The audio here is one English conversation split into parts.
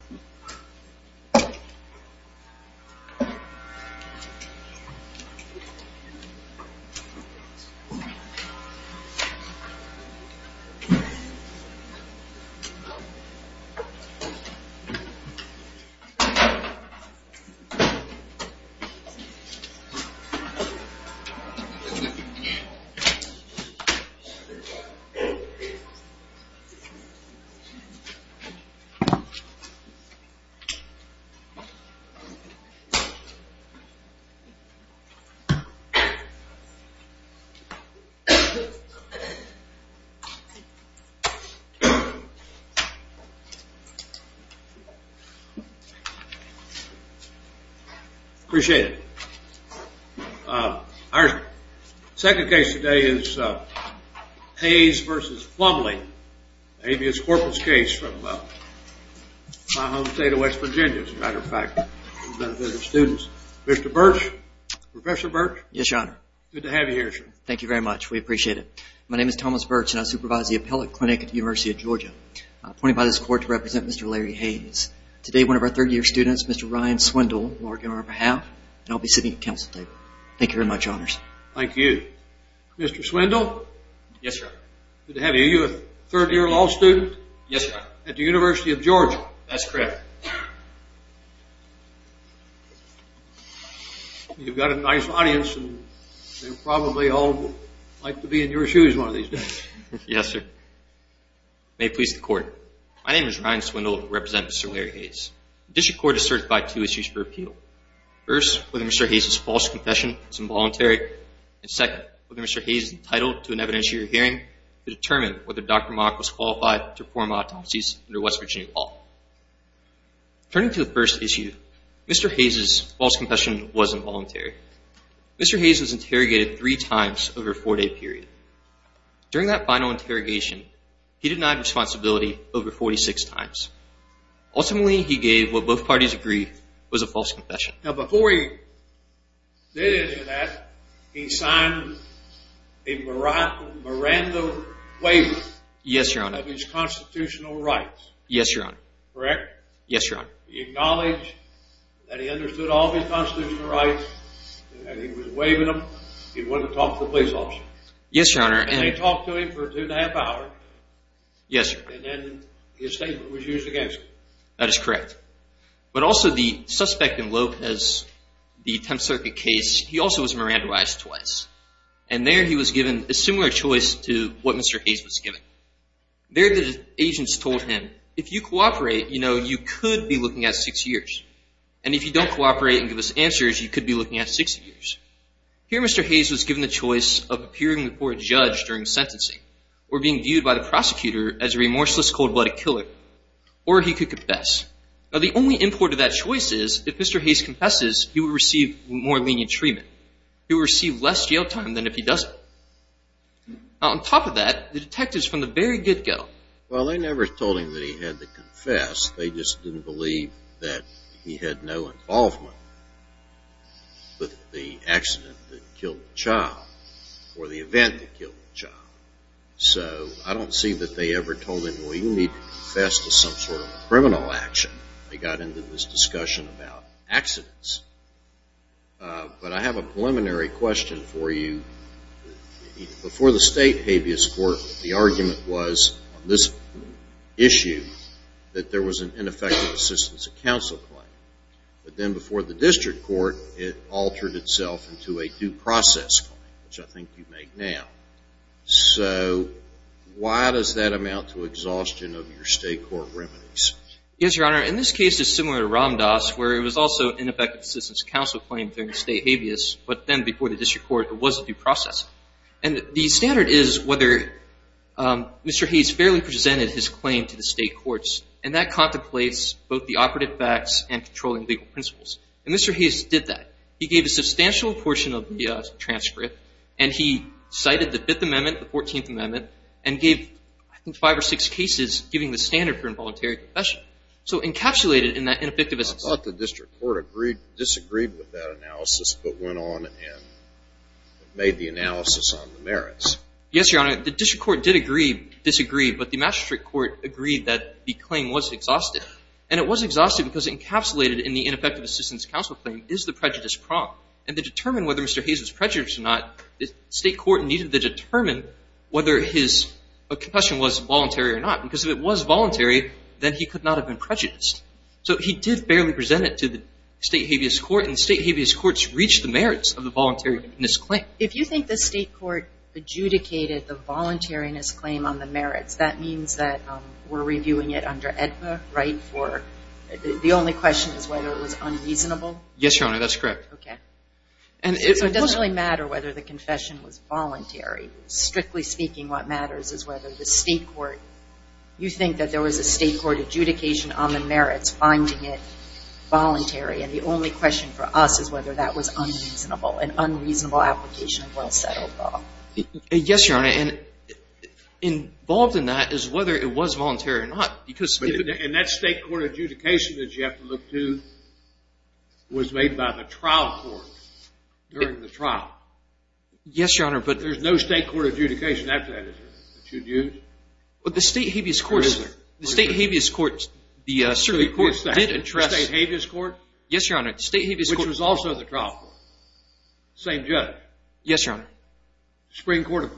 Hayes v. Marvin Plumley Appreciate it. Our second case today is Hayes v. Plumley. Hayes v. Plumley Mr. Swindle. Yes, sir. Good to have you. Are you a third-year law student? Yes, sir. At the University of Georgia? That's correct. You've got a nice audience and they'll probably all like to be in your shoes one of these days. Yes, sir. May it please the Court. My name is Ryan Swindle. I represent Mr. Larry Hayes. The District Court has certified two issues for appeal. First, whether Mr. Hayes' false confession was involuntary. And second, whether Mr. Hayes is entitled to an evidentiary hearing to determine whether Dr. Mock was qualified to perform autopsies under West Virginia law. Turning to the first issue, Mr. Hayes' false confession was involuntary. Mr. Hayes was interrogated three times over a four-day period. During that final interrogation, he denied responsibility over 46 times. Ultimately, he gave what both parties agreed was a false confession. Now, before he did any of that, he signed a Miranda waiver of his constitutional rights. Yes, Your Honor. Correct? Yes, Your Honor. He acknowledged that he understood all of his constitutional rights and he was waiving them. He wanted to talk to the police officer. Yes, Your Honor. And they talked to him for two and a half hours. Yes, sir. And then his statement was used against him. That is correct. But also, the suspect in Lopez, the Tenth Circuit case, he also was Miranda-ized twice. And there he was given a similar choice to what Mr. Hayes was given. There, the agents told him, if you cooperate, you know, you could be looking at six years. And if you don't cooperate and give us answers, you could be looking at six years. Here, Mr. Hayes was given the choice of appearing before a judge during sentencing or being viewed by the prosecutor as a remorseless, cold-blooded killer. Or he could confess. Now, the only import of that choice is, if Mr. Hayes confesses, he will receive more lenient treatment. He will receive less jail time than if he doesn't. On top of that, the detectives from the very good go. Well, they never told him that he had to confess. They just didn't believe that he had no involvement with the accident that killed the child or the event that killed the child. So I don't see that they ever told him, well, you need to confess to some sort of criminal action. They got into this discussion about accidents. But I have a preliminary question for you. Before the state habeas court, the argument was on this issue that there was an ineffective assistance of counsel claim. But then before the district court, it altered itself into a due process claim, which I think you make now. So why does that amount to exhaustion of your state court remedies? Yes, Your Honor. In this case, it's similar to Ram Dass, where it was also ineffective assistance of counsel claim during the state habeas. But then before the district court, it was a due process. And the standard is whether Mr. Hayes fairly presented his claim to the state courts. And that contemplates both the operative facts and controlling legal principles. And Mr. Hayes did that. He gave a substantial portion of the transcript, and he cited the Fifth Amendment, the Fourteenth Amendment, and gave, I think, five or six cases giving the standard for involuntary confession. So encapsulated in that ineffective assistance. I thought the district court disagreed with that analysis but went on and made the analysis on the merits. Yes, Your Honor. The district court did agree, disagree. But the magistrate court agreed that the claim was exhaustive. And it was exhaustive because it encapsulated in the ineffective assistance of counsel claim is the prejudice prompt. And to determine whether Mr. Hayes was prejudiced or not, the state court needed to determine whether his confession was voluntary or not. Because if it was voluntary, then he could not have been prejudiced. So he did fairly present it to the state habeas court, and the state habeas courts reached the merits of the voluntariness claim. If you think the state court adjudicated the voluntariness claim on the merits, that means that we're reviewing it under AEDPA, right? The only question is whether it was unreasonable? Yes, Your Honor. That's correct. Okay. So it doesn't really matter whether the confession was voluntary. Strictly speaking, what matters is whether the state court, you think that there was a state court adjudication on the merits finding it voluntary. And the only question for us is whether that was unreasonable, an unreasonable application of well-settled law. Yes, Your Honor. And involved in that is whether it was voluntary or not. And that state court adjudication that you have to look to was made by the trial court during the trial. Yes, Your Honor. There's no state court adjudication after that, is there, that you'd use? Well, the state habeas court, sir. The state habeas court. The state habeas court? Yes, Your Honor. Which was also the trial court. Same judge. Yes, Your Honor. Supreme Court of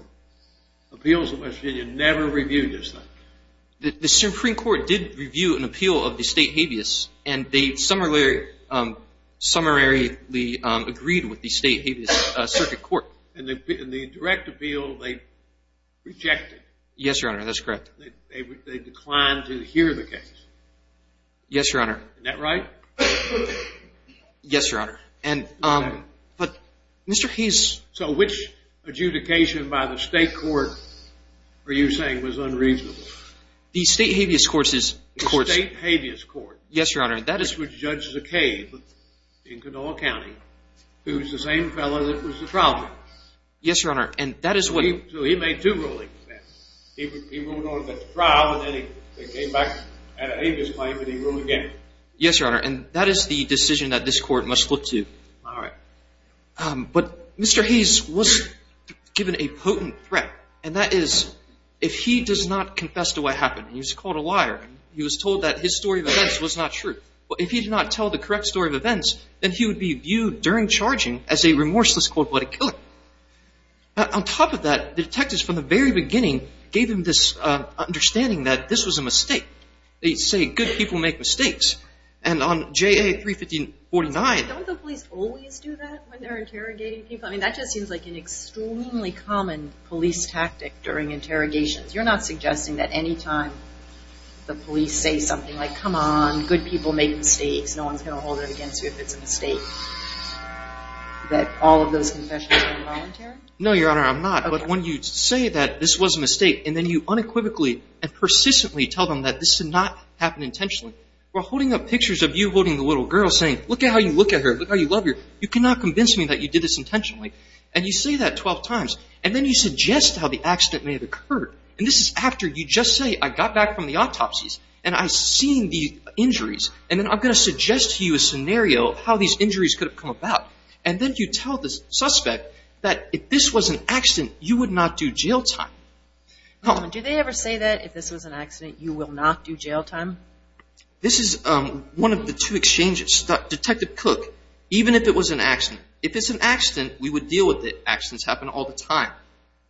Appeals of West Virginia never reviewed this thing. The Supreme Court did review an appeal of the state habeas, and they summarily agreed with the state habeas circuit court. And the direct appeal, they rejected. Yes, Your Honor. That's correct. They declined to hear the case. Yes, Your Honor. Isn't that right? Yes, Your Honor. But Mr. Hayes. So which adjudication by the state court were you saying was unreasonable? The state habeas court. The state habeas court. Yes, Your Honor. Which judges a case in Canoa County who's the same fellow that was the trial court. Yes, Your Honor. So he made two rulings then. He ruled on the trial, and then he came back at a habeas claim, and he ruled again. Yes, Your Honor. And that is the decision that this court must look to. All right. But Mr. Hayes was given a potent threat, and that is if he does not confess to what happened, he was called a liar, he was told that his story of events was not true. If he did not tell the correct story of events, then he would be viewed during charging as a remorseless, cold-blooded killer. On top of that, the detectives from the very beginning gave him this understanding that this was a mistake. They say good people make mistakes. And on JA-31549. Don't the police always do that when they're interrogating people? I mean, that just seems like an extremely common police tactic during interrogations. You're not suggesting that any time the police say something like, come on, good people make mistakes, no one's going to hold it against you if it's a mistake, that all of those confessions are involuntary? No, Your Honor, I'm not. But when you say that this was a mistake, and then you unequivocally and persistently tell them that this did not happen intentionally, while holding up pictures of you holding the little girl saying, look at how you look at her, look how you love her, you cannot convince me that you did this intentionally, and you say that 12 times, and then you suggest how the accident may have occurred, and this is after you just say, I got back from the autopsies, and I've seen the injuries, and then I'm going to suggest to you a scenario of how these injuries could have come about, and then you tell the suspect that if this was an accident, you would not do jail time. Do they ever say that if this was an accident, you will not do jail time? This is one of the two exchanges, Detective Cook, even if it was an accident. If it's an accident, we would deal with it. Accidents happen all the time.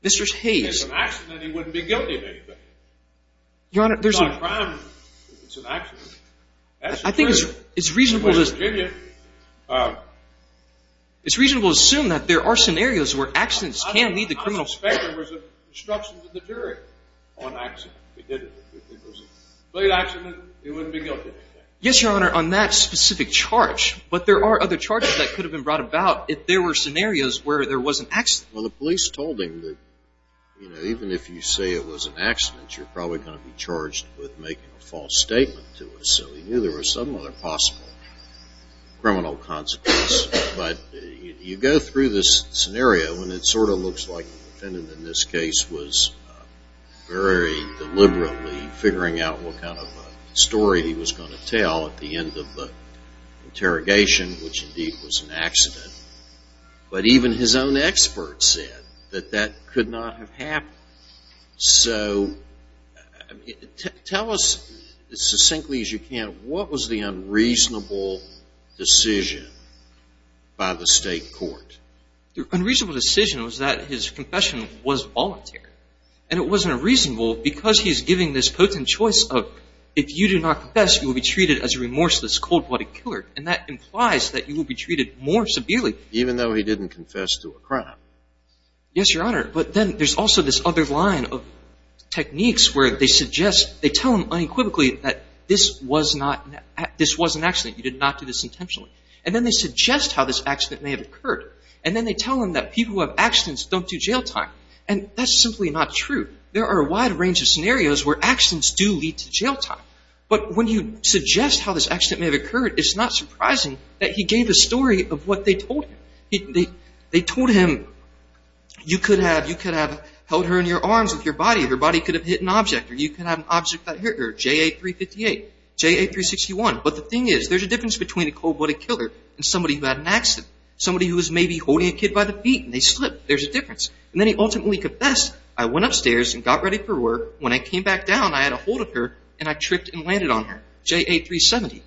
If it's an accident, he wouldn't be guilty of anything. If it's not a crime, it's an accident. I think it's reasonable to assume that there are scenarios where accidents can lead to criminal consequences. I suspect it was instructions of the jury on accident. If it was a complete accident, he wouldn't be guilty of anything. Yes, Your Honor, on that specific charge, but there are other charges that could have been brought about if there were scenarios where there was an accident. Well, the police told him that even if you say it was an accident, you're probably going to be charged with making a false statement to us, so he knew there was some other possible criminal consequence, but you go through this scenario, and it sort of looks like the defendant in this case was very deliberately figuring out what kind of story he was going to tell at the end of the interrogation, which indeed was an accident, but even his own expert said that that could not have happened. So tell us as succinctly as you can, what was the unreasonable decision by the state court? The unreasonable decision was that his confession was voluntary, and it wasn't reasonable because he's giving this potent choice of if you do not confess, you will be treated as a remorseless, cold-blooded killer, and that implies that you will be treated more severely. Even though he didn't confess to a crime. Yes, Your Honor, but then there's also this other line of techniques where they tell him unequivocally that this was an accident, you did not do this intentionally, and then they suggest how this accident may have occurred, and then they tell him that people who have accidents don't do jail time, and that's simply not true. There are a wide range of scenarios where accidents do lead to jail time, but when you suggest how this accident may have occurred, it's not surprising that he gave a story of what they told him. They told him, you could have held her in your arms with your body, your body could have hit an object, or you could have an object right here, J8358, J8361. But the thing is, there's a difference between a cold-blooded killer and somebody who had an accident, somebody who was maybe holding a kid by the feet and they slipped. There's a difference. And then he ultimately confessed, I went upstairs and got ready for work. When I came back down, I had a hold of her, and I tripped and landed on her. J8370.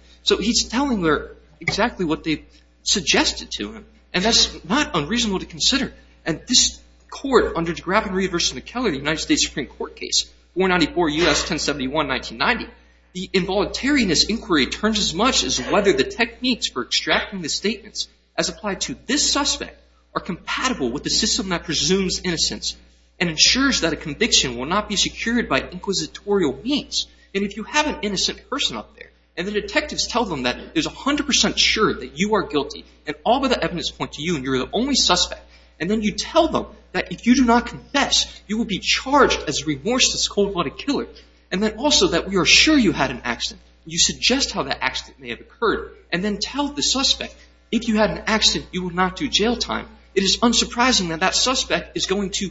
and that's not unreasonable to consider. And this court, under de Gravenry v. McKellar, the United States Supreme Court case, 494 U.S. 1071, 1990, the involuntariness inquiry turns as much as whether the techniques for extracting the statements as applied to this suspect are compatible with the system that presumes innocence and ensures that a conviction will not be secured by inquisitorial means. And if you have an innocent person up there, and the detectives tell them that there's 100% sure that you are guilty, and all but the evidence point to you, and you're the only suspect, and then you tell them that if you do not confess, you will be charged as a remorseless cold-blooded killer, and then also that we are sure you had an accident, you suggest how that accident may have occurred, and then tell the suspect, if you had an accident, you will not do jail time, it is unsurprising that that suspect is going to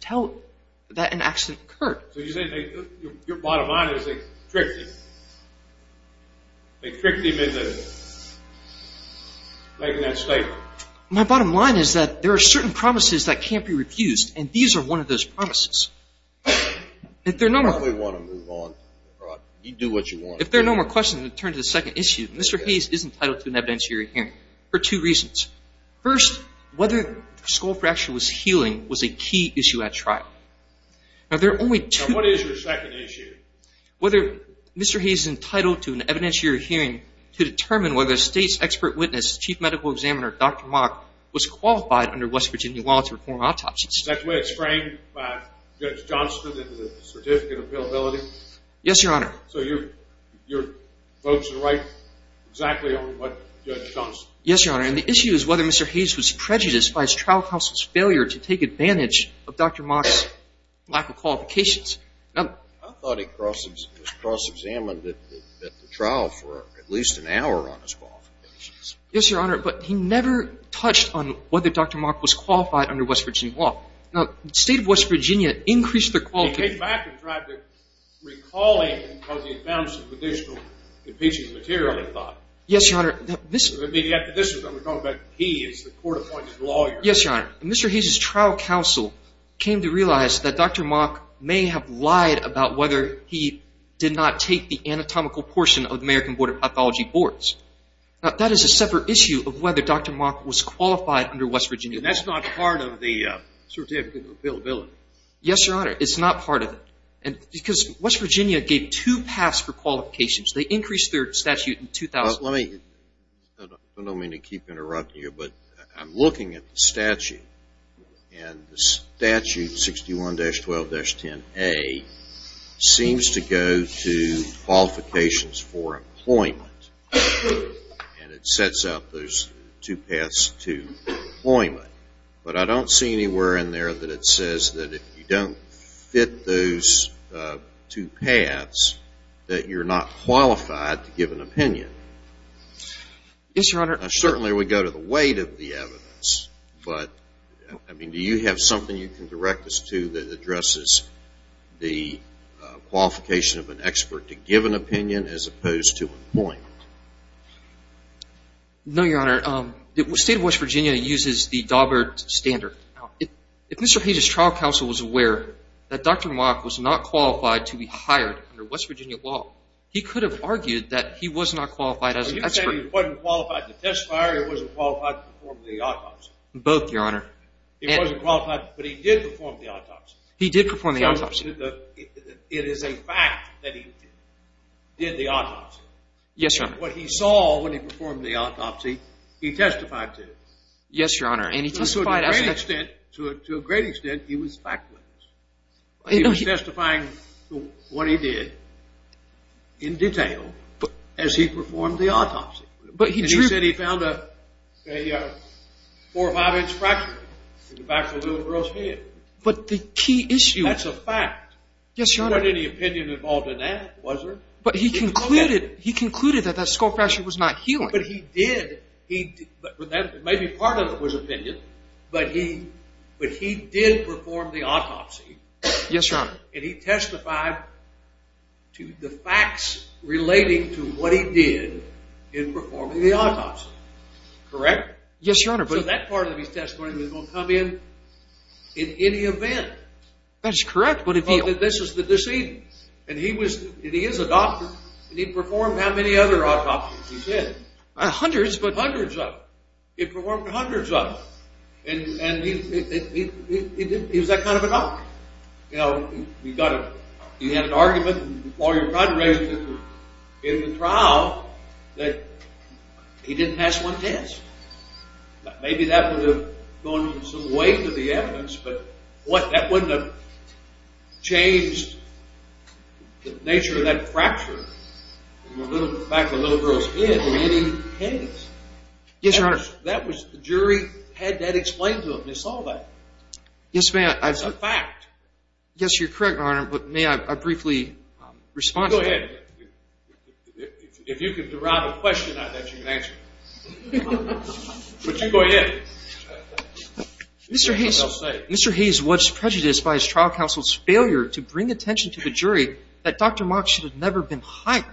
tell that an accident occurred. So you're saying your bottom line is they tricked him. They tricked him into making that statement. My bottom line is that there are certain promises that can't be refused, and these are one of those promises. If there are no more questions, we'll turn to the second issue. Mr. Hayes is entitled to an evidentiary hearing for two reasons. First, whether the skull fracture was healing was a key issue at trial. Now, there are only two... Now, what is your second issue? Whether Mr. Hayes is entitled to an evidentiary hearing to determine whether State's expert witness, Chief Medical Examiner Dr. Mock, was qualified under West Virginia law to perform autopsies. Is that the way it's framed by Judge Johnston and the certificate of availability? Yes, Your Honor. So your votes are right exactly on what Judge Johnston... Yes, Your Honor, and the issue is whether Mr. Hayes was prejudiced by his trial counsel's failure to take advantage of Dr. Mock's lack of qualifications. I thought he was cross-examined at the trial for at least an hour on his qualifications. Yes, Your Honor, but he never touched on whether Dr. Mock was qualified under West Virginia law. Now, the State of West Virginia increased their qualification... He came back and tried to recall him because he had found some additional impeaching material, he thought. Yes, Your Honor. I mean, this is what we're talking about. Yes, Your Honor. Mr. Hayes' trial counsel came to realize that Dr. Mock may have lied about whether he did not take the anatomical portion of the American Board of Pathology boards. Now, that is a separate issue of whether Dr. Mock was qualified under West Virginia law. That's not part of the certificate of availability. Yes, Your Honor, it's not part of it because West Virginia gave two paths for qualifications. They increased their statute in 2000... I don't mean to keep interrupting you, but I'm looking at the statute, and the statute 61-12-10A seems to go to qualifications for employment, and it sets up those two paths to employment, but I don't see anywhere in there that it says that if you don't fit those two paths, that you're not qualified to give an opinion. Yes, Your Honor. Now, certainly we go to the weight of the evidence, but do you have something you can direct us to that addresses the qualification of an expert to give an opinion as opposed to employment? No, Your Honor. The state of West Virginia uses the Daubert standard. Now, if Mr. Page's trial counsel was aware that Dr. Mock was not qualified to be hired under West Virginia law, he could have argued that he was not qualified as an expert. So you're saying he wasn't qualified to testify or he wasn't qualified to perform the autopsy? Both, Your Honor. He wasn't qualified, but he did perform the autopsy? He did perform the autopsy. It is a fact that he did the autopsy? Yes, Your Honor. And what he saw when he performed the autopsy, he testified to? Yes, Your Honor, and he testified... To a great extent, he was factless. He was testifying to what he did in detail as he performed the autopsy. But he drew... And he said he found a 4 or 5-inch fracture in the back of the little girl's head. But the key issue... That's a fact. Yes, Your Honor. There wasn't any opinion involved in that, was there? But he concluded that that skull fracture was not healing. Maybe part of it was opinion, but he did perform the autopsy. Yes, Your Honor. And he testified to the facts relating to what he did in performing the autopsy. Correct? Yes, Your Honor, but... So that part of his testimony was going to come in at any event. That is correct, but if he... Hundreds, but... Hundreds of them. He performed hundreds of them. And he was that kind of a doctor. You know, he got a... He had an argument while he was in the trial that he didn't pass one test. Maybe that would have gone some way to the evidence, but that wouldn't have changed the nature of that fracture in the back of the little girl's head or any case. Yes, Your Honor. That was... The jury had that explained to them. They saw that. Yes, ma'am. It's a fact. Yes, you're correct, Your Honor, but may I briefly respond to that? Go ahead. If you can deride a question like that, you can answer it. But you go ahead. Mr. Hayes was prejudiced by his trial counsel's failure to bring attention to the jury that Dr. Mock should have never been hired.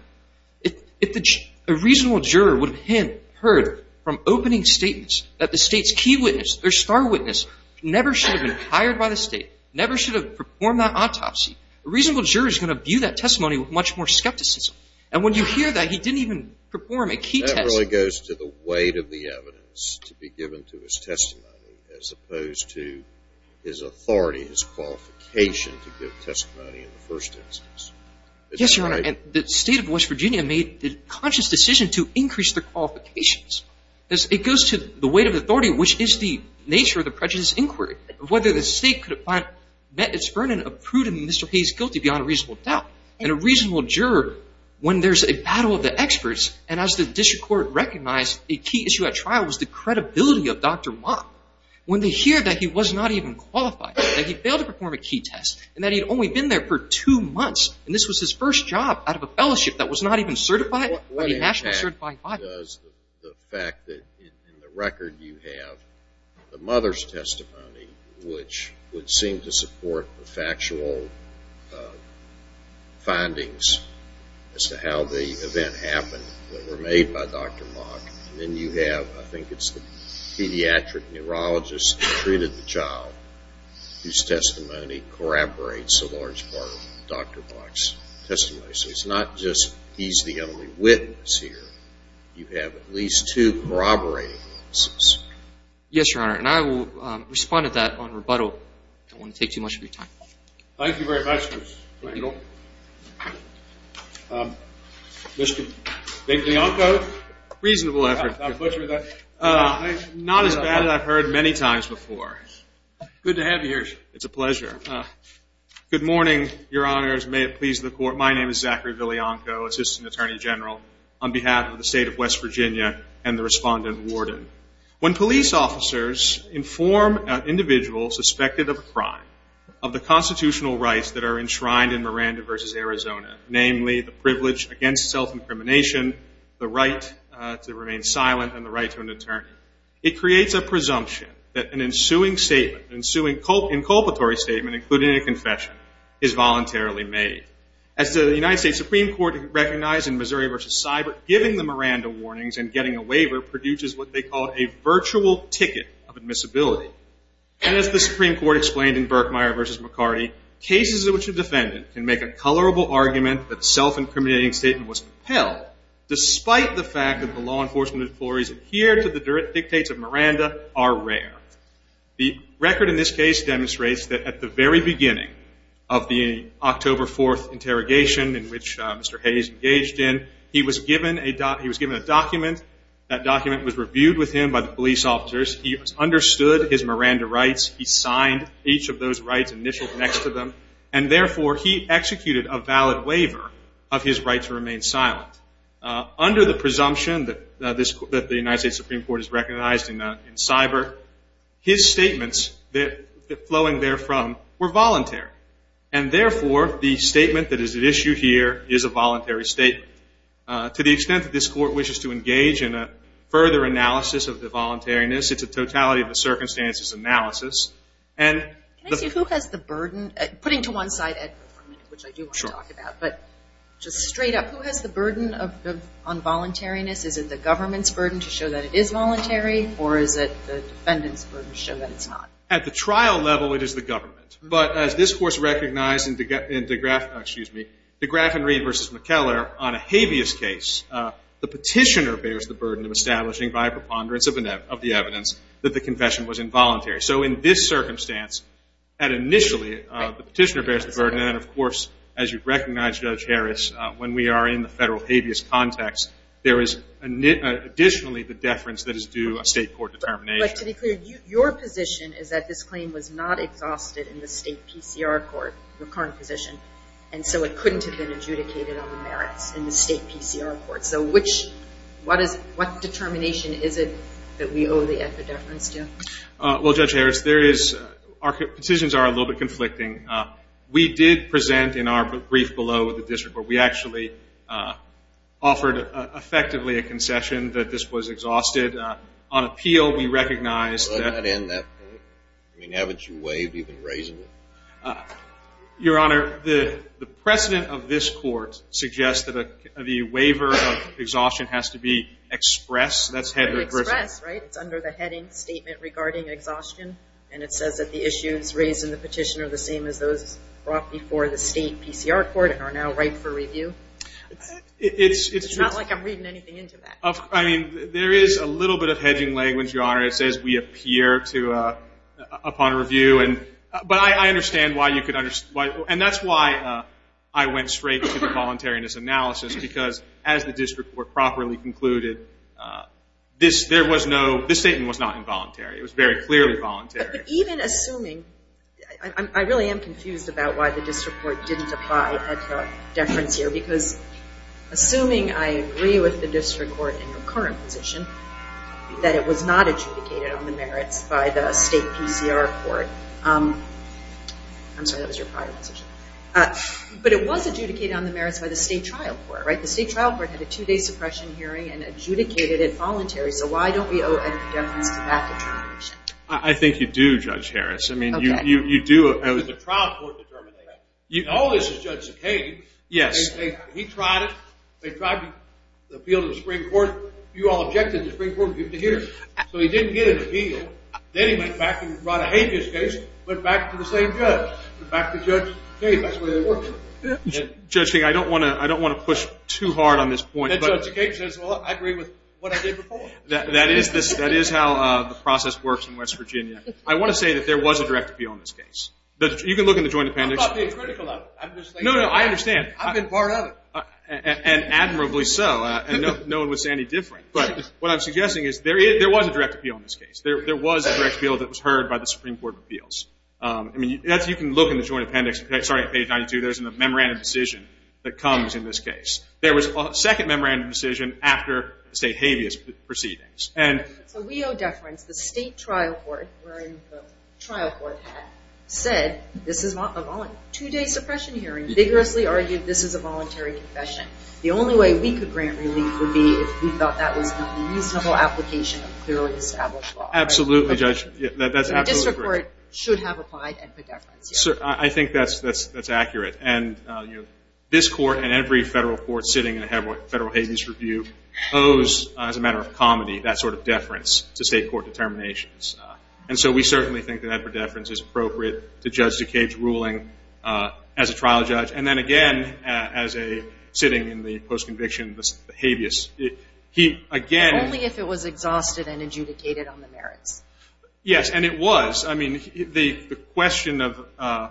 If a reasonable juror would have heard from opening statements that the state's key witness, their star witness, never should have been hired by the state, never should have performed that autopsy, a reasonable juror is going to view that testimony with much more skepticism. And when you hear that he didn't even perform a key test... That really goes to the weight of the evidence to be given to his testimony as opposed to his authority, his qualification to give testimony in the first instance. Yes, Your Honor. And the state of West Virginia made the conscious decision to increase the qualifications. It goes to the weight of the authority, which is the nature of the prejudiced inquiry, whether the state could have met its burden of prudent Mr. Hayes guilty beyond a reasonable doubt. And a reasonable juror, when there's a battle of the experts, and as the district court recognized, a key issue at trial was the credibility of Dr. Mock. When they hear that he was not even qualified, that he failed to perform a key test, and that he had only been there for two months, and this was his first job out of a fellowship that was not even certified by the National Certified Files... What impact does the fact that in the record you have the mother's testimony, which would seem to support the factual findings as to how the event happened that were made by Dr. Mock, and then you have, I think it's the pediatric neurologist who treated the child, whose testimony corroborates a large part of Dr. Mock's testimony. So it's not just he's the only witness here. You have at least two corroborating witnesses. Yes, Your Honor. And I will respond to that on rebuttal. I don't want to take too much of your time. Thank you very much, Mr. Rangel. Mr. Viglianco. Reasonable effort. Not as bad as I've heard many times before. Good to have you here, sir. It's a pleasure. Good morning, Your Honors. May it please the Court. My name is Zachary Viglianco, Assistant Attorney General, on behalf of the State of West Virginia and the Respondent Warden. When police officers inform an individual suspected of a crime, of the constitutional rights that are enshrined in Miranda v. Arizona, namely the privilege against self-incrimination, the right to remain silent, and the right to an attorney, it creates a presumption that an ensuing statement, an ensuing inculpatory statement, including a confession, is voluntarily made. As the United States Supreme Court recognized in Missouri v. Cyber, giving the Miranda warnings and getting a waiver produces what they call a virtual ticket of admissibility. And as the Supreme Court explained in Berkmeyer v. McCarty, cases in which a defendant can make a colorable argument that a self-incriminating statement was compelled, despite the fact that the law enforcement authorities adhere to the dictates of Miranda, are rare. The record in this case demonstrates that at the very beginning of the October 4th interrogation, in which Mr. Hayes engaged in, he was given a document. That document was reviewed with him by the police officers. He understood his Miranda rights. He signed each of those rights initialed next to them. And therefore, he executed a valid waiver of his right to remain silent. Under the presumption that the United States Supreme Court has recognized in Cyber, his statements flowing therefrom were voluntary. And therefore, the statement that is at issue here is a voluntary statement. To the extent that this Court wishes to engage in a further analysis of the voluntariness, it's a totality of the circumstances analysis. And the- Can I see who has the burden? Putting to one side, which I do want to talk about. But just straight up, who has the burden on voluntariness? Is it the government's burden to show that it is voluntary? Or is it the defendant's burden to show that it's not? At the trial level, it is the government. But as this Court recognized in DeGraff-excuse me, DeGraff and Reed v. McKellar, on a habeas case, the petitioner bears the burden of establishing by a preponderance of the evidence that the confession was involuntary. So in this circumstance, initially, the petitioner bears the burden. And, of course, as you recognize, Judge Harris, when we are in the federal habeas context, there is additionally the deference that is due a state court determination. But to be clear, your position is that this claim was not exhausted in the state PCR court, your current position, and so it couldn't have been adjudicated on the merits in the state PCR court. So which-what determination is it that we owe the deference to? Well, Judge Harris, there is-our petitions are a little bit conflicting. We did present in our brief below with the district court. We actually offered effectively a concession that this was exhausted. On appeal, we recognized that- Does that end that point? I mean, haven't you waived even raising it? Your Honor, the precedent of this court suggests that the waiver of exhaustion has to be expressed. That's headed- Expressed, right? It's under the heading statement regarding exhaustion, and it says that the issues raised in the petition are the same as those brought before the state PCR court and are now ripe for review. It's- It's- It's not like I'm reading anything into that. I mean, there is a little bit of hedging language, Your Honor. It says we appear to-upon review, and-but I understand why you could-and that's why I went straight to the voluntariness analysis, because as the district court properly concluded, this-there was no-this statement was not involuntary. It was very clearly voluntary. But even assuming-I really am confused about why the district court didn't apply a deference here, assuming I agree with the district court in your current position that it was not adjudicated on the merits by the state PCR court. I'm sorry, that was your prior position. But it was adjudicated on the merits by the state trial court, right? The state trial court had a two-day suppression hearing and adjudicated it voluntary, so why don't we owe a deference to that determination? I think you do, Judge Harris. I mean, you do- Okay. The trial court determined that. Right. You- Yes. Judge King, I don't want to-I don't want to push too hard on this point. That is this-that is how the process works in West Virginia. I want to say that there was a direct appeal in this case. You can look in the joint appendix. I'm not being critical of it. I'm just saying- No, no, I understand. I've been part of it. And admirably so, and no one would say any different. But what I'm suggesting is there was a direct appeal in this case. There was a direct appeal that was heard by the Supreme Court of Appeals. I mean, you can look in the joint appendix. Sorry, page 92. There's a memorandum decision that comes in this case. There was a second memorandum decision after the state habeas proceedings. So we owe deference. The state trial court, wherein the trial court had said, this is a two-day suppression hearing, vigorously argued this is a voluntary confession. The only way we could grant relief would be if we thought that was a reasonable application of clearly established law. Absolutely, Judge. That's absolutely correct. The district court should have applied and paid deference. I think that's accurate. And this court and every federal court sitting in a federal habeas review owes, as a matter of comedy, that sort of deference to state court determinations. And so we certainly think that deference is appropriate to Judge Duquesne's ruling as a trial judge. And then, again, as a sitting in the post-conviction habeas, he, again. Only if it was exhausted and adjudicated on the merits. Yes, and it was. I mean, the question of, I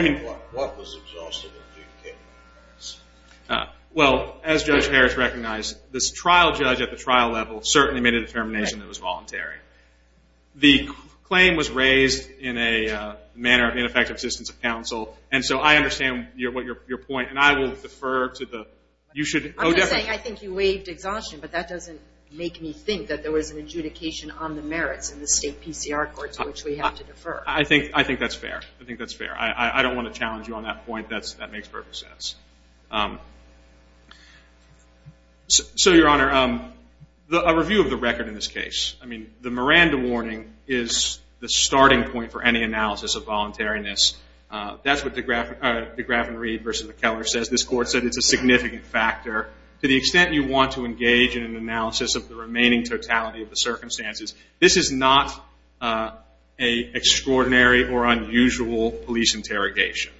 mean. What was exhausted and adjudicated on the merits? Well, as Judge Harris recognized, this trial judge at the trial level certainly made a determination it was voluntary. The claim was raised in a manner of ineffective assistance of counsel. And so I understand your point. And I will defer to the... I'm not saying I think you waived exhaustion, but that doesn't make me think that there was an adjudication on the merits in the state PCR courts, which we have to defer. I think that's fair. I think that's fair. I don't want to challenge you on that point. That makes perfect sense. So, Your Honor, a review of the record in this case. I mean, the Miranda warning is the starting point for any analysis of voluntariness. That's what de Gravenreid versus McKellar says. This court said it's a significant factor. To the extent you want to engage in an analysis of the remaining totality of the circumstances, this is not an extraordinary or unusual police interrogation.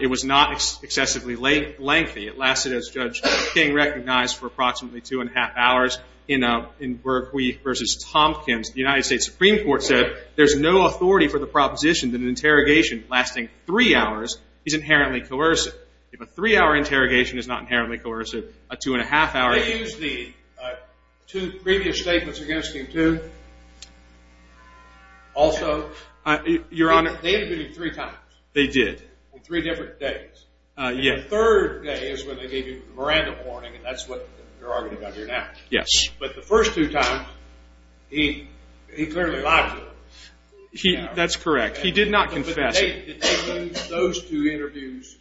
It was not excessively lengthy. It lasted, as Judge King recognized, for approximately two and a half hours. In Bergquist versus Tompkins, the United States Supreme Court said, there's no authority for the proposition that an interrogation lasting three hours is inherently coercive. If a three-hour interrogation is not inherently coercive, a two and a half hour... They used the two previous statements against him, too. Also... Your Honor... They interviewed him three times. They did. Three different days. Yes. And the third day is when they gave you the Miranda warning, and that's what they're arguing about here now. Yes. But the first two times, he clearly lied to them. That's correct. He did not confess. But did they use those two interviews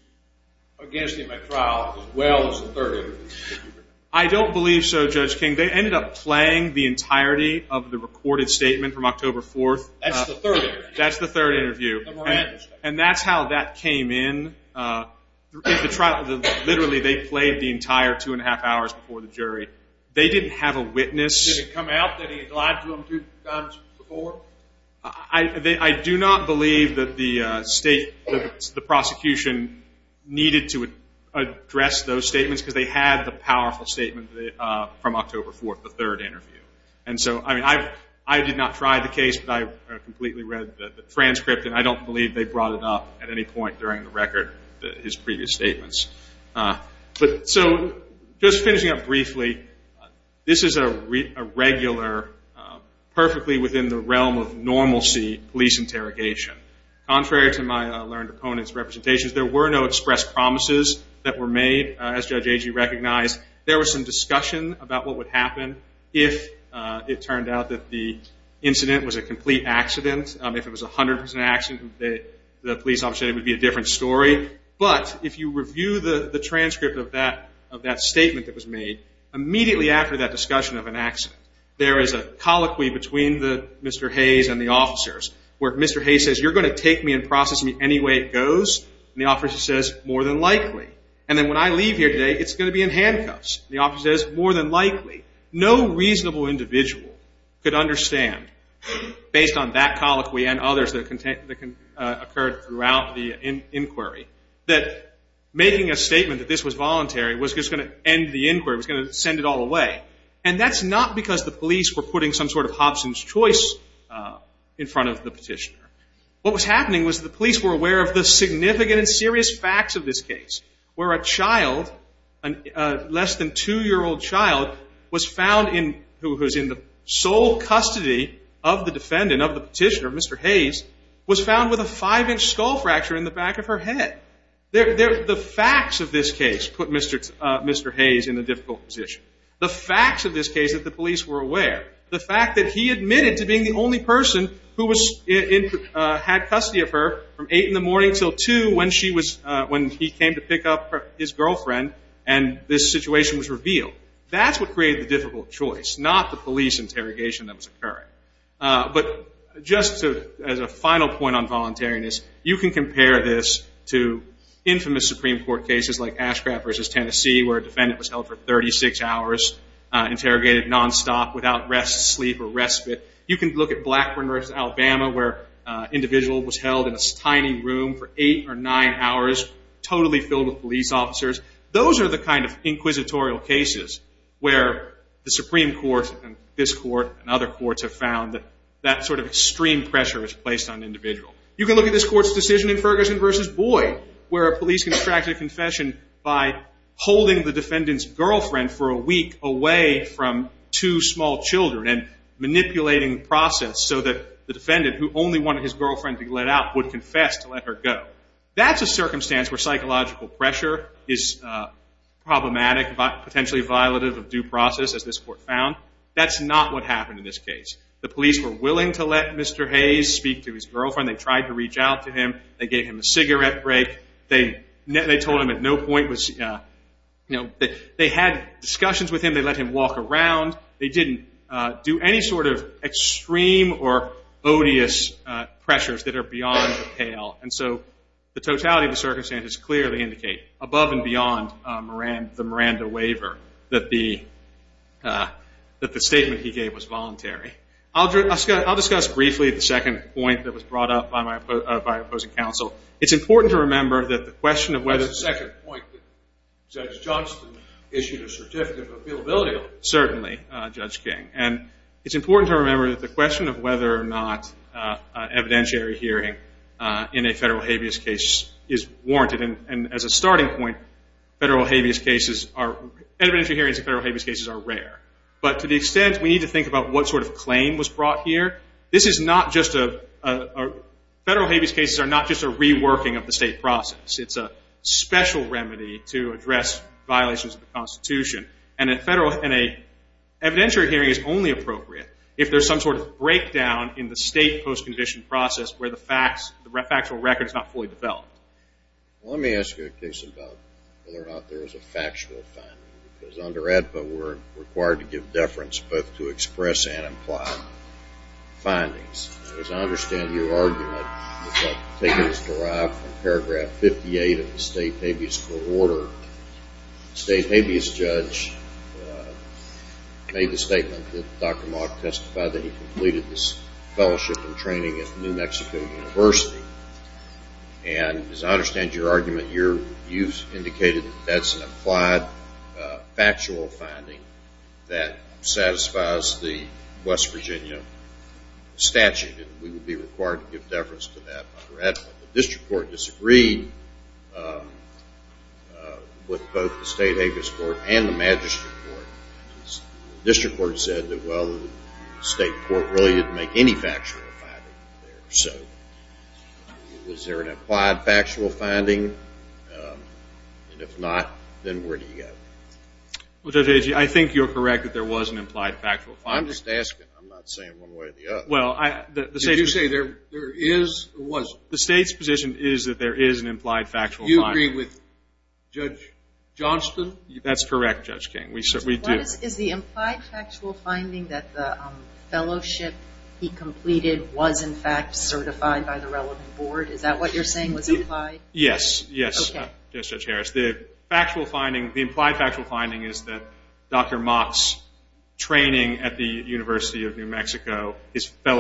against him at trial as well as the third interview? I don't believe so, Judge King. They ended up playing the entirety of the recorded statement from October 4th. That's the third interview. That's the third interview. The Miranda statement. And that's how that came in. Literally, they played the entire two and a half hours before the jury. They didn't have a witness. Did it come out that he had lied to them two times before? I do not believe that the prosecution needed to address those statements because they had the powerful statement from October 4th, the third interview. And so, I mean, I did not try the case, but I completely read the transcript, and I don't believe they brought it up at any point during the record, his previous statements. So just finishing up briefly, this is a regular, perfectly within the realm of normalcy, police interrogation. Contrary to my learned opponent's representations, there were no express promises that were made, as Judge Agee recognized. There was some discussion about what would happen if it turned out that the If it was a 100% accident, the police officer would be a different story. But if you review the transcript of that statement that was made, immediately after that discussion of an accident, there is a colloquy between Mr. Hayes and the officers, where Mr. Hayes says, you're going to take me and process me any way it goes, and the officer says, more than likely. And then when I leave here today, it's going to be in handcuffs. The officer says, more than likely. No reasonable individual could understand, based on that colloquy and others that occurred throughout the inquiry, that making a statement that this was voluntary was just going to end the inquiry, was going to send it all away. And that's not because the police were putting some sort of Hobson's choice in front of the petitioner. What was happening was the police were aware of the significant and serious facts of this case, where a child, a less than two-year-old child, was found, who was in the sole custody of the defendant, of the petitioner, Mr. Hayes, was found with a five-inch skull fracture in the back of her head. The facts of this case put Mr. Hayes in a difficult position. The facts of this case that the police were aware. The fact that he admitted to being the only person who had custody of her from eight in the morning until two when he came to pick up his girlfriend and this situation was revealed. That's what created the difficult choice, not the police interrogation that was occurring. But just as a final point on voluntariness, you can compare this to infamous Supreme Court cases like Ashcraft v. Tennessee, where a defendant was held for 36 hours, interrogated nonstop without rest, sleep, or respite. You can look at Blackburn v. Alabama, where an individual was held in a tiny room for eight or nine hours, totally filled with police officers. Those are the kind of inquisitorial cases where the Supreme Court and this court and other courts have found that that sort of extreme pressure is placed on an individual. You can look at this court's decision in Ferguson v. Boyd, where a police constructed a confession by holding the defendant's so that the defendant, who only wanted his girlfriend to be let out, would confess to let her go. That's a circumstance where psychological pressure is problematic, potentially violative of due process, as this court found. That's not what happened in this case. The police were willing to let Mr. Hayes speak to his girlfriend. They tried to reach out to him. They gave him a cigarette break. They told him at no point was, you know, they had discussions with him. They let him walk around. They didn't do any sort of extreme or odious pressures that are beyond the pale. And so the totality of the circumstances clearly indicate, above and beyond the Miranda waiver, that the statement he gave was voluntary. I'll discuss briefly the second point that was brought up by my opposing counsel. It's important to remember that the question of whether the second point that Judge Johnston issued a certificate of appealability on. Certainly, Judge King. And it's important to remember that the question of whether or not evidentiary hearing in a federal habeas case is warranted. And as a starting point, federal habeas cases are rare. But to the extent we need to think about what sort of claim was brought here, this is not just a ‑‑ federal habeas cases are not just a reworking of the It's a special remedy to address violations of the Constitution. And an evidentiary hearing is only appropriate if there's some sort of breakdown in the state post-condition process where the factual record is not fully developed. Well, let me ask you a question about whether or not there was a factual finding. Because under AEDPA, we're required to give deference both to express and imply findings. As I understand your argument, it was taken as derived from paragraph 58 of the state habeas court order. State habeas judge made the statement that Dr. Mock testified that he completed this fellowship and training at New Mexico University. And as I understand your argument, you've indicated that that's an applied factual finding that satisfies the West Virginia statute. And we would be required to give deference to that under AEDPA. But the district court disagreed with both the state habeas court and the magistrate court. The district court said that, well, the state court really didn't make any factual finding there. So was there an implied factual finding? And if not, then where do you go? Well, Judge Agee, I think you're correct that there was an implied factual finding. I'm just asking. I'm not saying one way or the other. Did you say there is or wasn't? Well, the state's position is that there is an implied factual finding. Do you agree with Judge Johnston? That's correct, Judge King. We do. Is the implied factual finding that the fellowship he completed was, in fact, certified by the relevant board? Is that what you're saying was implied? Yes. Yes, Judge Harris. The implied factual finding is that Dr. Mock's training at the University of I just have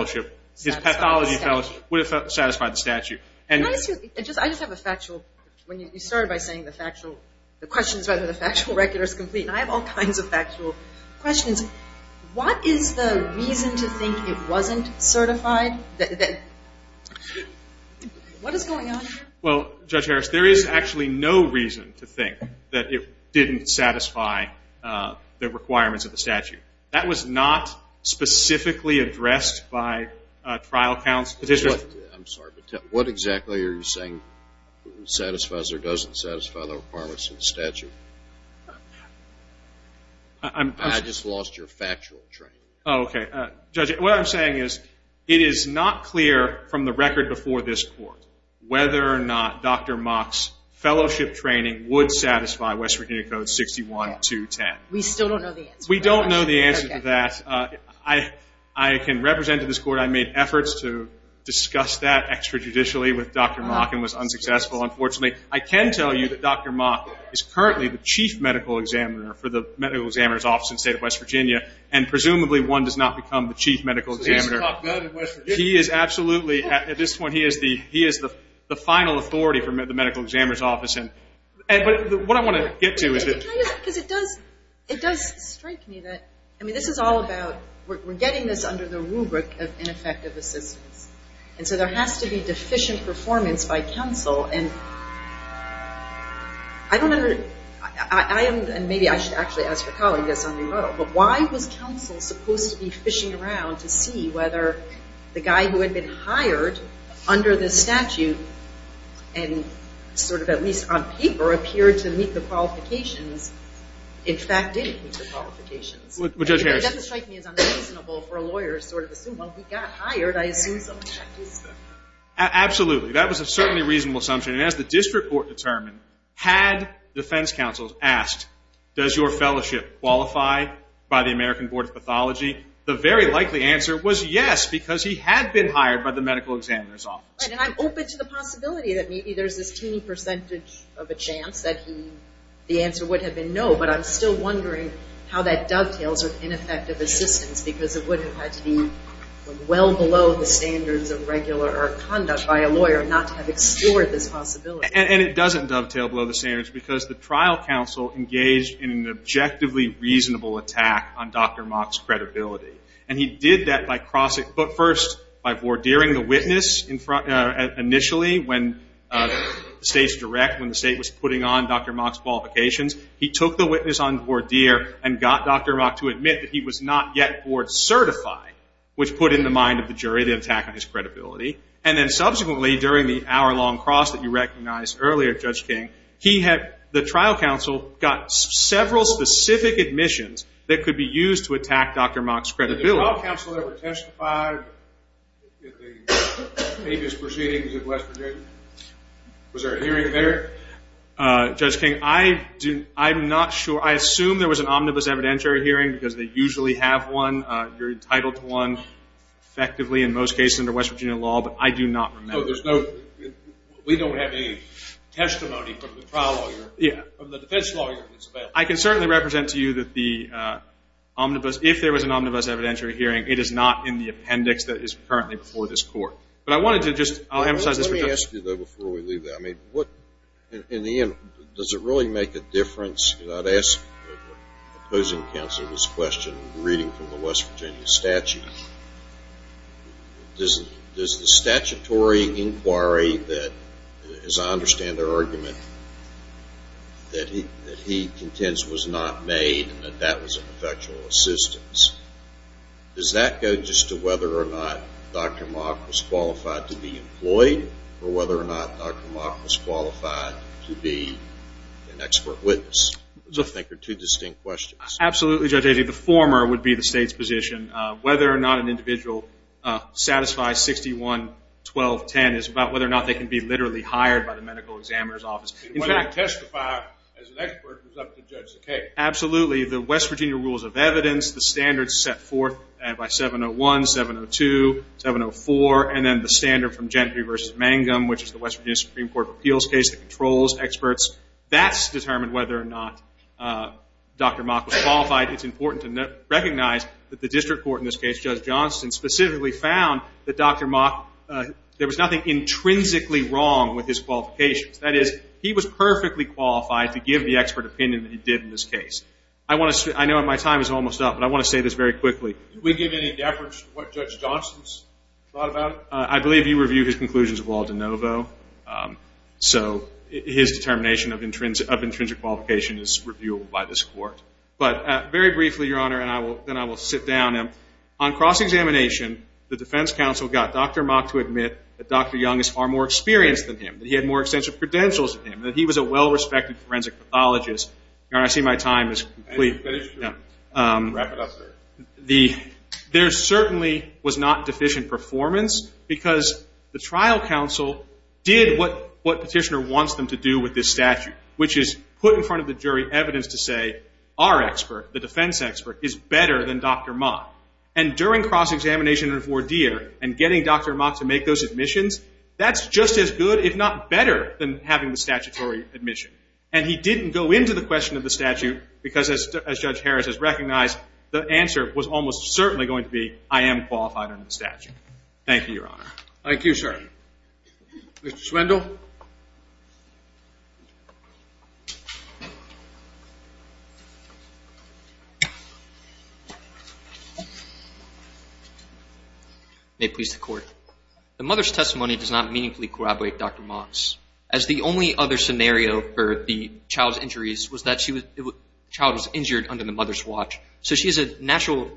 a factual. You started by saying the factual. The question is whether the factual record is complete. And I have all kinds of factual questions. What is the reason to think it wasn't certified? What is going on here? Well, Judge Harris, there is actually no reason to think that it didn't satisfy the requirements of the statute. That was not specifically addressed by trial counsel. I'm sorry, but what exactly are you saying satisfies or doesn't satisfy the requirements of the statute? I just lost your factual training. Okay. Judge, what I'm saying is it is not clear from the record before this court whether or not Dr. Mock's fellowship training would satisfy West Virginia Code 61-210. We still don't know the answer. We don't know the answer to that. I can represent to this court I made efforts to discuss that extrajudicially with Dr. Mock and was unsuccessful. Unfortunately, I can tell you that Dr. Mock is currently the chief medical examiner for the medical examiner's office in the state of West Virginia, and presumably one does not become the chief medical examiner. He is absolutely, at this point, he is the final authority for the medical examiner's office. What I want to get to is that because it does strike me that, I mean, this is all about, we're getting this under the rubric of ineffective assistance, and so there has to be deficient performance by counsel, and maybe I should actually ask a colleague this on the road, but why was counsel supposed to be fishing around to see whether the guy who had been hired under the statute and sort of at least on paper appeared to meet the qualifications, in fact, didn't meet the qualifications? It doesn't strike me as unreasonable for a lawyer to sort of assume, well, he got hired, I assume so. Absolutely. That was certainly a reasonable assumption, and as the district court determined, had defense counsel asked, does your fellowship qualify by the American Board of Pathology, the very likely answer was yes, because he had been hired by the medical examiner's office. And I'm open to the possibility that maybe there's this teeny percentage of a chance that the answer would have been no, but I'm still wondering how that dovetails with ineffective assistance because it would have had to be well below the standards of regular conduct by a lawyer not to have extorted this possibility. And it doesn't dovetail below the standards because the trial counsel engaged in an objectively reasonable attack on Dr. Mock's credibility, and he did that by crossing foot first by vordeering the witness initially when the state's direct, when the state was putting on Dr. Mock's qualifications. He took the witness on vordeer and got Dr. Mock to admit that he was not yet board certified, which put in the mind of the jury the attack on his credibility, and then subsequently during the hour-long cross that you recognized earlier, Judge King, the trial counsel got several specific admissions that could be used to attack Dr. Mock's credibility. Did the trial counsel ever testify at the previous proceedings in West Virginia? Was there a hearing there? Judge King, I'm not sure. I assume there was an omnibus evidentiary hearing because they usually have one. You're entitled to one effectively in most cases under West Virginia law, but I do not remember. We don't have any testimony from the trial lawyer, from the defense lawyer. I can certainly represent to you that the omnibus, if there was an omnibus evidentiary hearing, it is not in the appendix that is currently before this court. But I wanted to just emphasize this. Let me ask you, though, before we leave that. In the end, does it really make a difference? I'd ask opposing counsel this question reading from the West Virginia statute. Does the statutory inquiry that, as I understand their argument, that he contends was not made and that that was an effectual assistance, does that go just to whether or not Dr. Mock was qualified to be employed or whether or not Dr. Mock was qualified to be an expert witness? Those, I think, are two distinct questions. Absolutely, Judge Agee. I think the former would be the state's position. Whether or not an individual satisfies 61-1210 is about whether or not they can be literally hired by the medical examiner's office. Whether they testify as an expert is up to Judge Sakai. Absolutely. The West Virginia rules of evidence, the standards set forth by 701, 702, 704, and then the standard from Gentry v. Mangum, which is the West Virginia Supreme Court of Appeals case that controls experts, that's determined whether or not Dr. Mock was qualified. It's important to recognize that the district court in this case, Judge Johnston, specifically found that Dr. Mock, there was nothing intrinsically wrong with his qualifications. That is, he was perfectly qualified to give the expert opinion that he did in this case. I want to say, I know my time is almost up, but I want to say this very quickly. Did we give any deference to what Judge Johnston thought about it? I believe you reviewed his conclusions of Walden Novo, so his determination of intrinsic qualification is reviewable by this court. But very briefly, Your Honor, and then I will sit down. On cross-examination, the defense counsel got Dr. Mock to admit that Dr. Young is far more experienced than him, that he had more extensive credentials than him, that he was a well-respected forensic pathologist. Your Honor, I see my time is complete. I didn't finish, sir. Wrap it up, sir. There certainly was not deficient performance because the trial counsel did what petitioner wants them to do with this statute, which is put in front of the jury evidence to say our expert, the defense expert, is better than Dr. Mock. And during cross-examination and voir dire and getting Dr. Mock to make those admissions, that's just as good, if not better, than having the statutory admission. And he didn't go into the question of the statute because, as Judge Harris has recognized, the answer was almost certainly going to be, I am qualified under the statute. Thank you, Your Honor. Thank you, sir. Mr. Swindle. May it please the Court. The mother's testimony does not meaningfully corroborate Dr. Mock's, as the only other scenario for the child's injuries was that the child was injured under the mother's watch. So she has a natural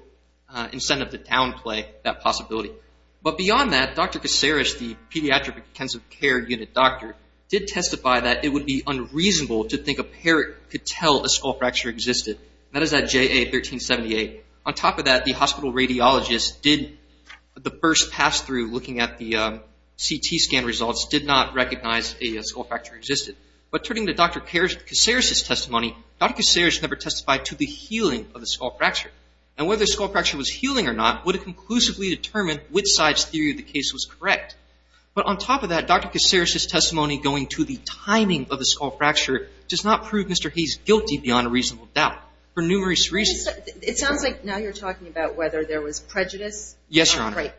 incentive to downplay that possibility. But beyond that, Dr. Kaceres, the Pediatric Intensive Care Unit doctor, did testify that it would be unreasonable to think a parrot could tell a skull fracture existed. That is at JA 1378. On top of that, the hospital radiologist did, the first pass-through looking at the CT scan results, did not recognize a skull fracture existed. But turning to Dr. Kaceres' testimony, Dr. Kaceres never testified to the healing of the skull fracture. And whether the skull fracture was healing or not, would have conclusively determined which side's theory of the case was correct. But on top of that, Dr. Kaceres' testimony going to the timing of the skull fracture does not prove Mr. Hayes guilty beyond a reasonable doubt for numerous reasons. It sounds like now you're talking about whether there was prejudice. Yes, Your Honor. Right.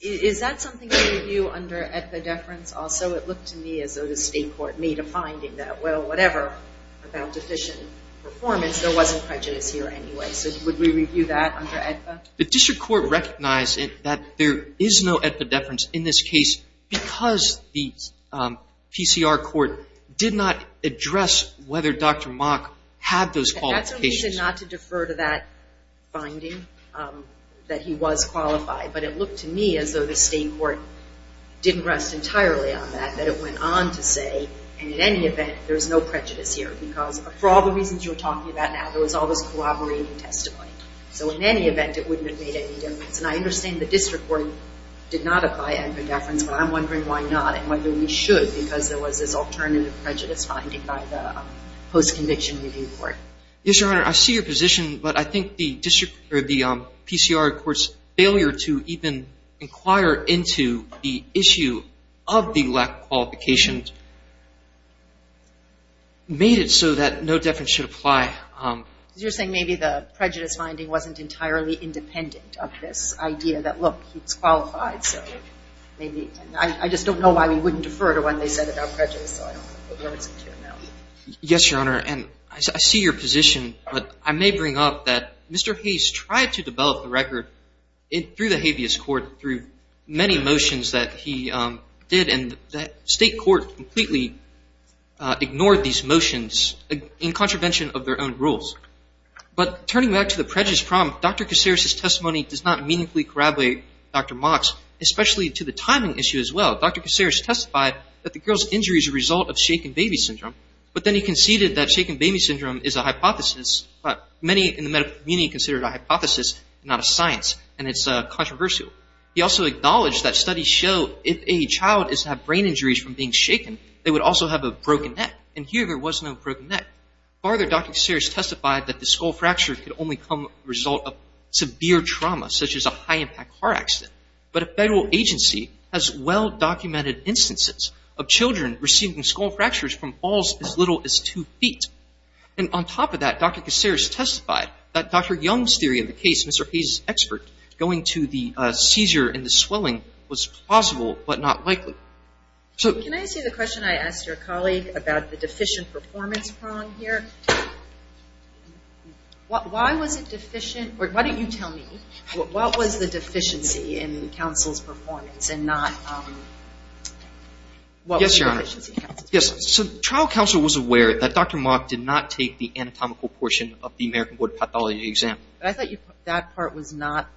Is that something that you view under epidepherence also? It looked to me as though the State Court made a finding that, well, whatever about deficient performance, there wasn't prejudice here anyway. So would we review that under AEDPA? The district court recognized that there is no epidepherence in this case because the PCR court did not address whether Dr. Mock had those qualifications. That's why we said not to defer to that finding, that he was qualified. But it looked to me as though the State Court didn't rest entirely on that, that it went on to say, in any event, there's no prejudice here. Because for all the reasons you're talking about now, there was all this corroborating testimony. So in any event, it wouldn't have made any difference. And I understand the district court did not apply epidepherence, but I'm wondering why not and whether we should because there was this alternative prejudice finding by the post-conviction review court. Yes, Your Honor. I see your position. But I think the district or the PCR court's failure to even inquire into the issue of the lack of qualifications made it so that no deference should apply. You're saying maybe the prejudice finding wasn't entirely independent of this idea that, look, he's qualified. I just don't know why we wouldn't defer to what they said about prejudice. Yes, Your Honor. And I see your position. But I may bring up that Mr. Hayes tried to develop the record through the habeas motions that he did, and the state court completely ignored these motions in contravention of their own rules. But turning back to the prejudice problem, Dr. Kaceres' testimony does not meaningfully corroborate Dr. Mock's, especially to the timing issue as well. Dr. Kaceres testified that the girl's injury is a result of shaken baby syndrome, but then he conceded that shaken baby syndrome is a hypothesis, but many in the medical community consider it a hypothesis and not a science, and it's controversial. He also acknowledged that studies show if a child is to have brain injuries from being shaken, they would also have a broken neck, and here there was no broken neck. Further, Dr. Kaceres testified that the skull fracture could only come as a result of severe trauma, such as a high-impact car accident. But a federal agency has well-documented instances of children receiving skull fractures from falls as little as two feet. And on top of that, Dr. Kaceres testified that Dr. Young's theory of the case, Mr. Hayes' expert, going to the seizure and the swelling was plausible but not likely. Can I ask you the question I asked your colleague about the deficient performance prong here? Why was it deficient? Why don't you tell me. What was the deficiency in counsel's performance and not what was the deficiency in counsel's performance? Yes, Your Honor. So trial counsel was aware that Dr. Mock did not take the anatomical portion of the American Board of Pathology exam. But I thought that part was not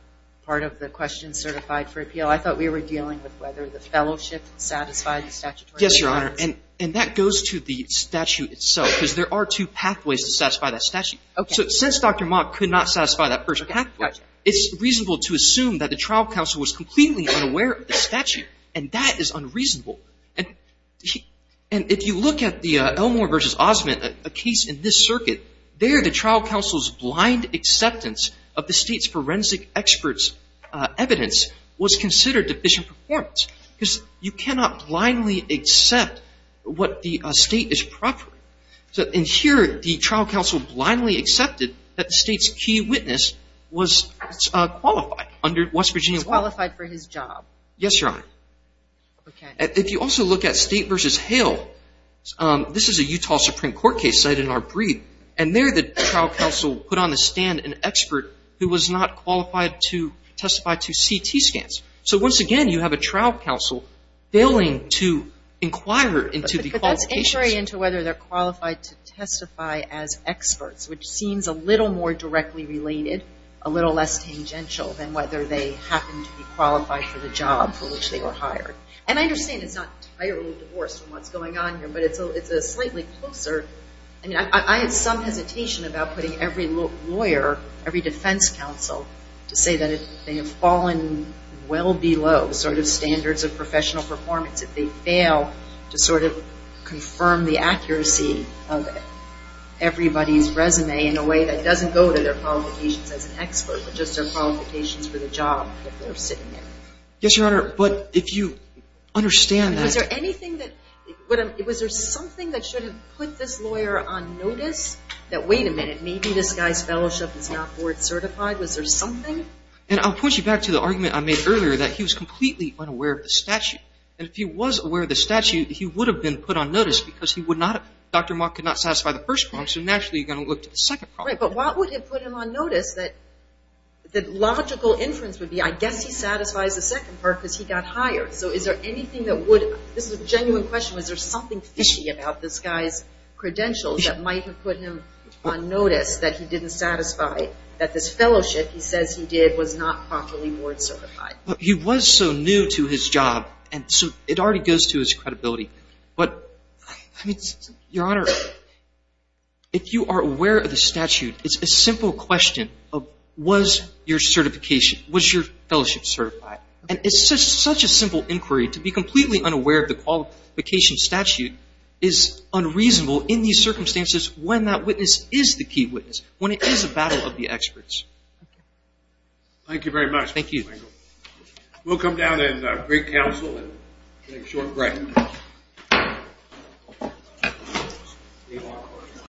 part of the question certified for appeal. I thought we were dealing with whether the fellowship satisfied the statutory requirements. Yes, Your Honor. And that goes to the statute itself, because there are two pathways to satisfy that statute. Okay. So since Dr. Mock could not satisfy that first pathway, it's reasonable to assume that the trial counsel was completely unaware of the statute, and that is unreasonable. And if you look at the Elmore v. Osment, a case in this circuit, there the trial counsel's blind acceptance of the state's forensic experts' evidence was considered deficient performance. Because you cannot blindly accept what the state is proper. And here the trial counsel blindly accepted that the state's key witness was qualified under West Virginia law. Was qualified for his job. Yes, Your Honor. Okay. If you also look at State v. Hale, this is a Utah Supreme Court case cited in which the trial counsel put on the stand an expert who was not qualified to testify to CT scans. So once again, you have a trial counsel failing to inquire into the qualifications. But that's inquiring into whether they're qualified to testify as experts, which seems a little more directly related, a little less tangential than whether they happen to be qualified for the job for which they were hired. And I understand it's not entirely divorced from what's going on here, but it's a slightly closer. I had some hesitation about putting every lawyer, every defense counsel, to say that they have fallen well below sort of standards of professional performance if they fail to sort of confirm the accuracy of everybody's resume in a way that doesn't go to their qualifications as an expert, but just their qualifications for the job that they're sitting in. Yes, Your Honor. But if you understand that. Was there something that should have put this lawyer on notice that, wait a minute, maybe this guy's fellowship is not board certified? Was there something? And I'll point you back to the argument I made earlier that he was completely unaware of the statute. And if he was aware of the statute, he would have been put on notice because Dr. Mock could not satisfy the first prong, so naturally you're going to look to the second prong. Right, but what would have put him on notice that the logical inference would be I guess he satisfies the second prong because he got hired. So is there anything that would, this is a genuine question, was there something fishy about this guy's credentials that might have put him on notice that he didn't satisfy that this fellowship he says he did was not properly board certified? He was so new to his job, and so it already goes to his credibility. But, I mean, Your Honor, if you are aware of the statute, it's a simple question of was your certification, was your fellowship certified? And it's such a simple inquiry to be completely unaware of the qualification statute is unreasonable in these circumstances when that witness is the key witness, when it is a battle of the experts. Thank you very much. Thank you. We'll come down and break counsel and take a short break.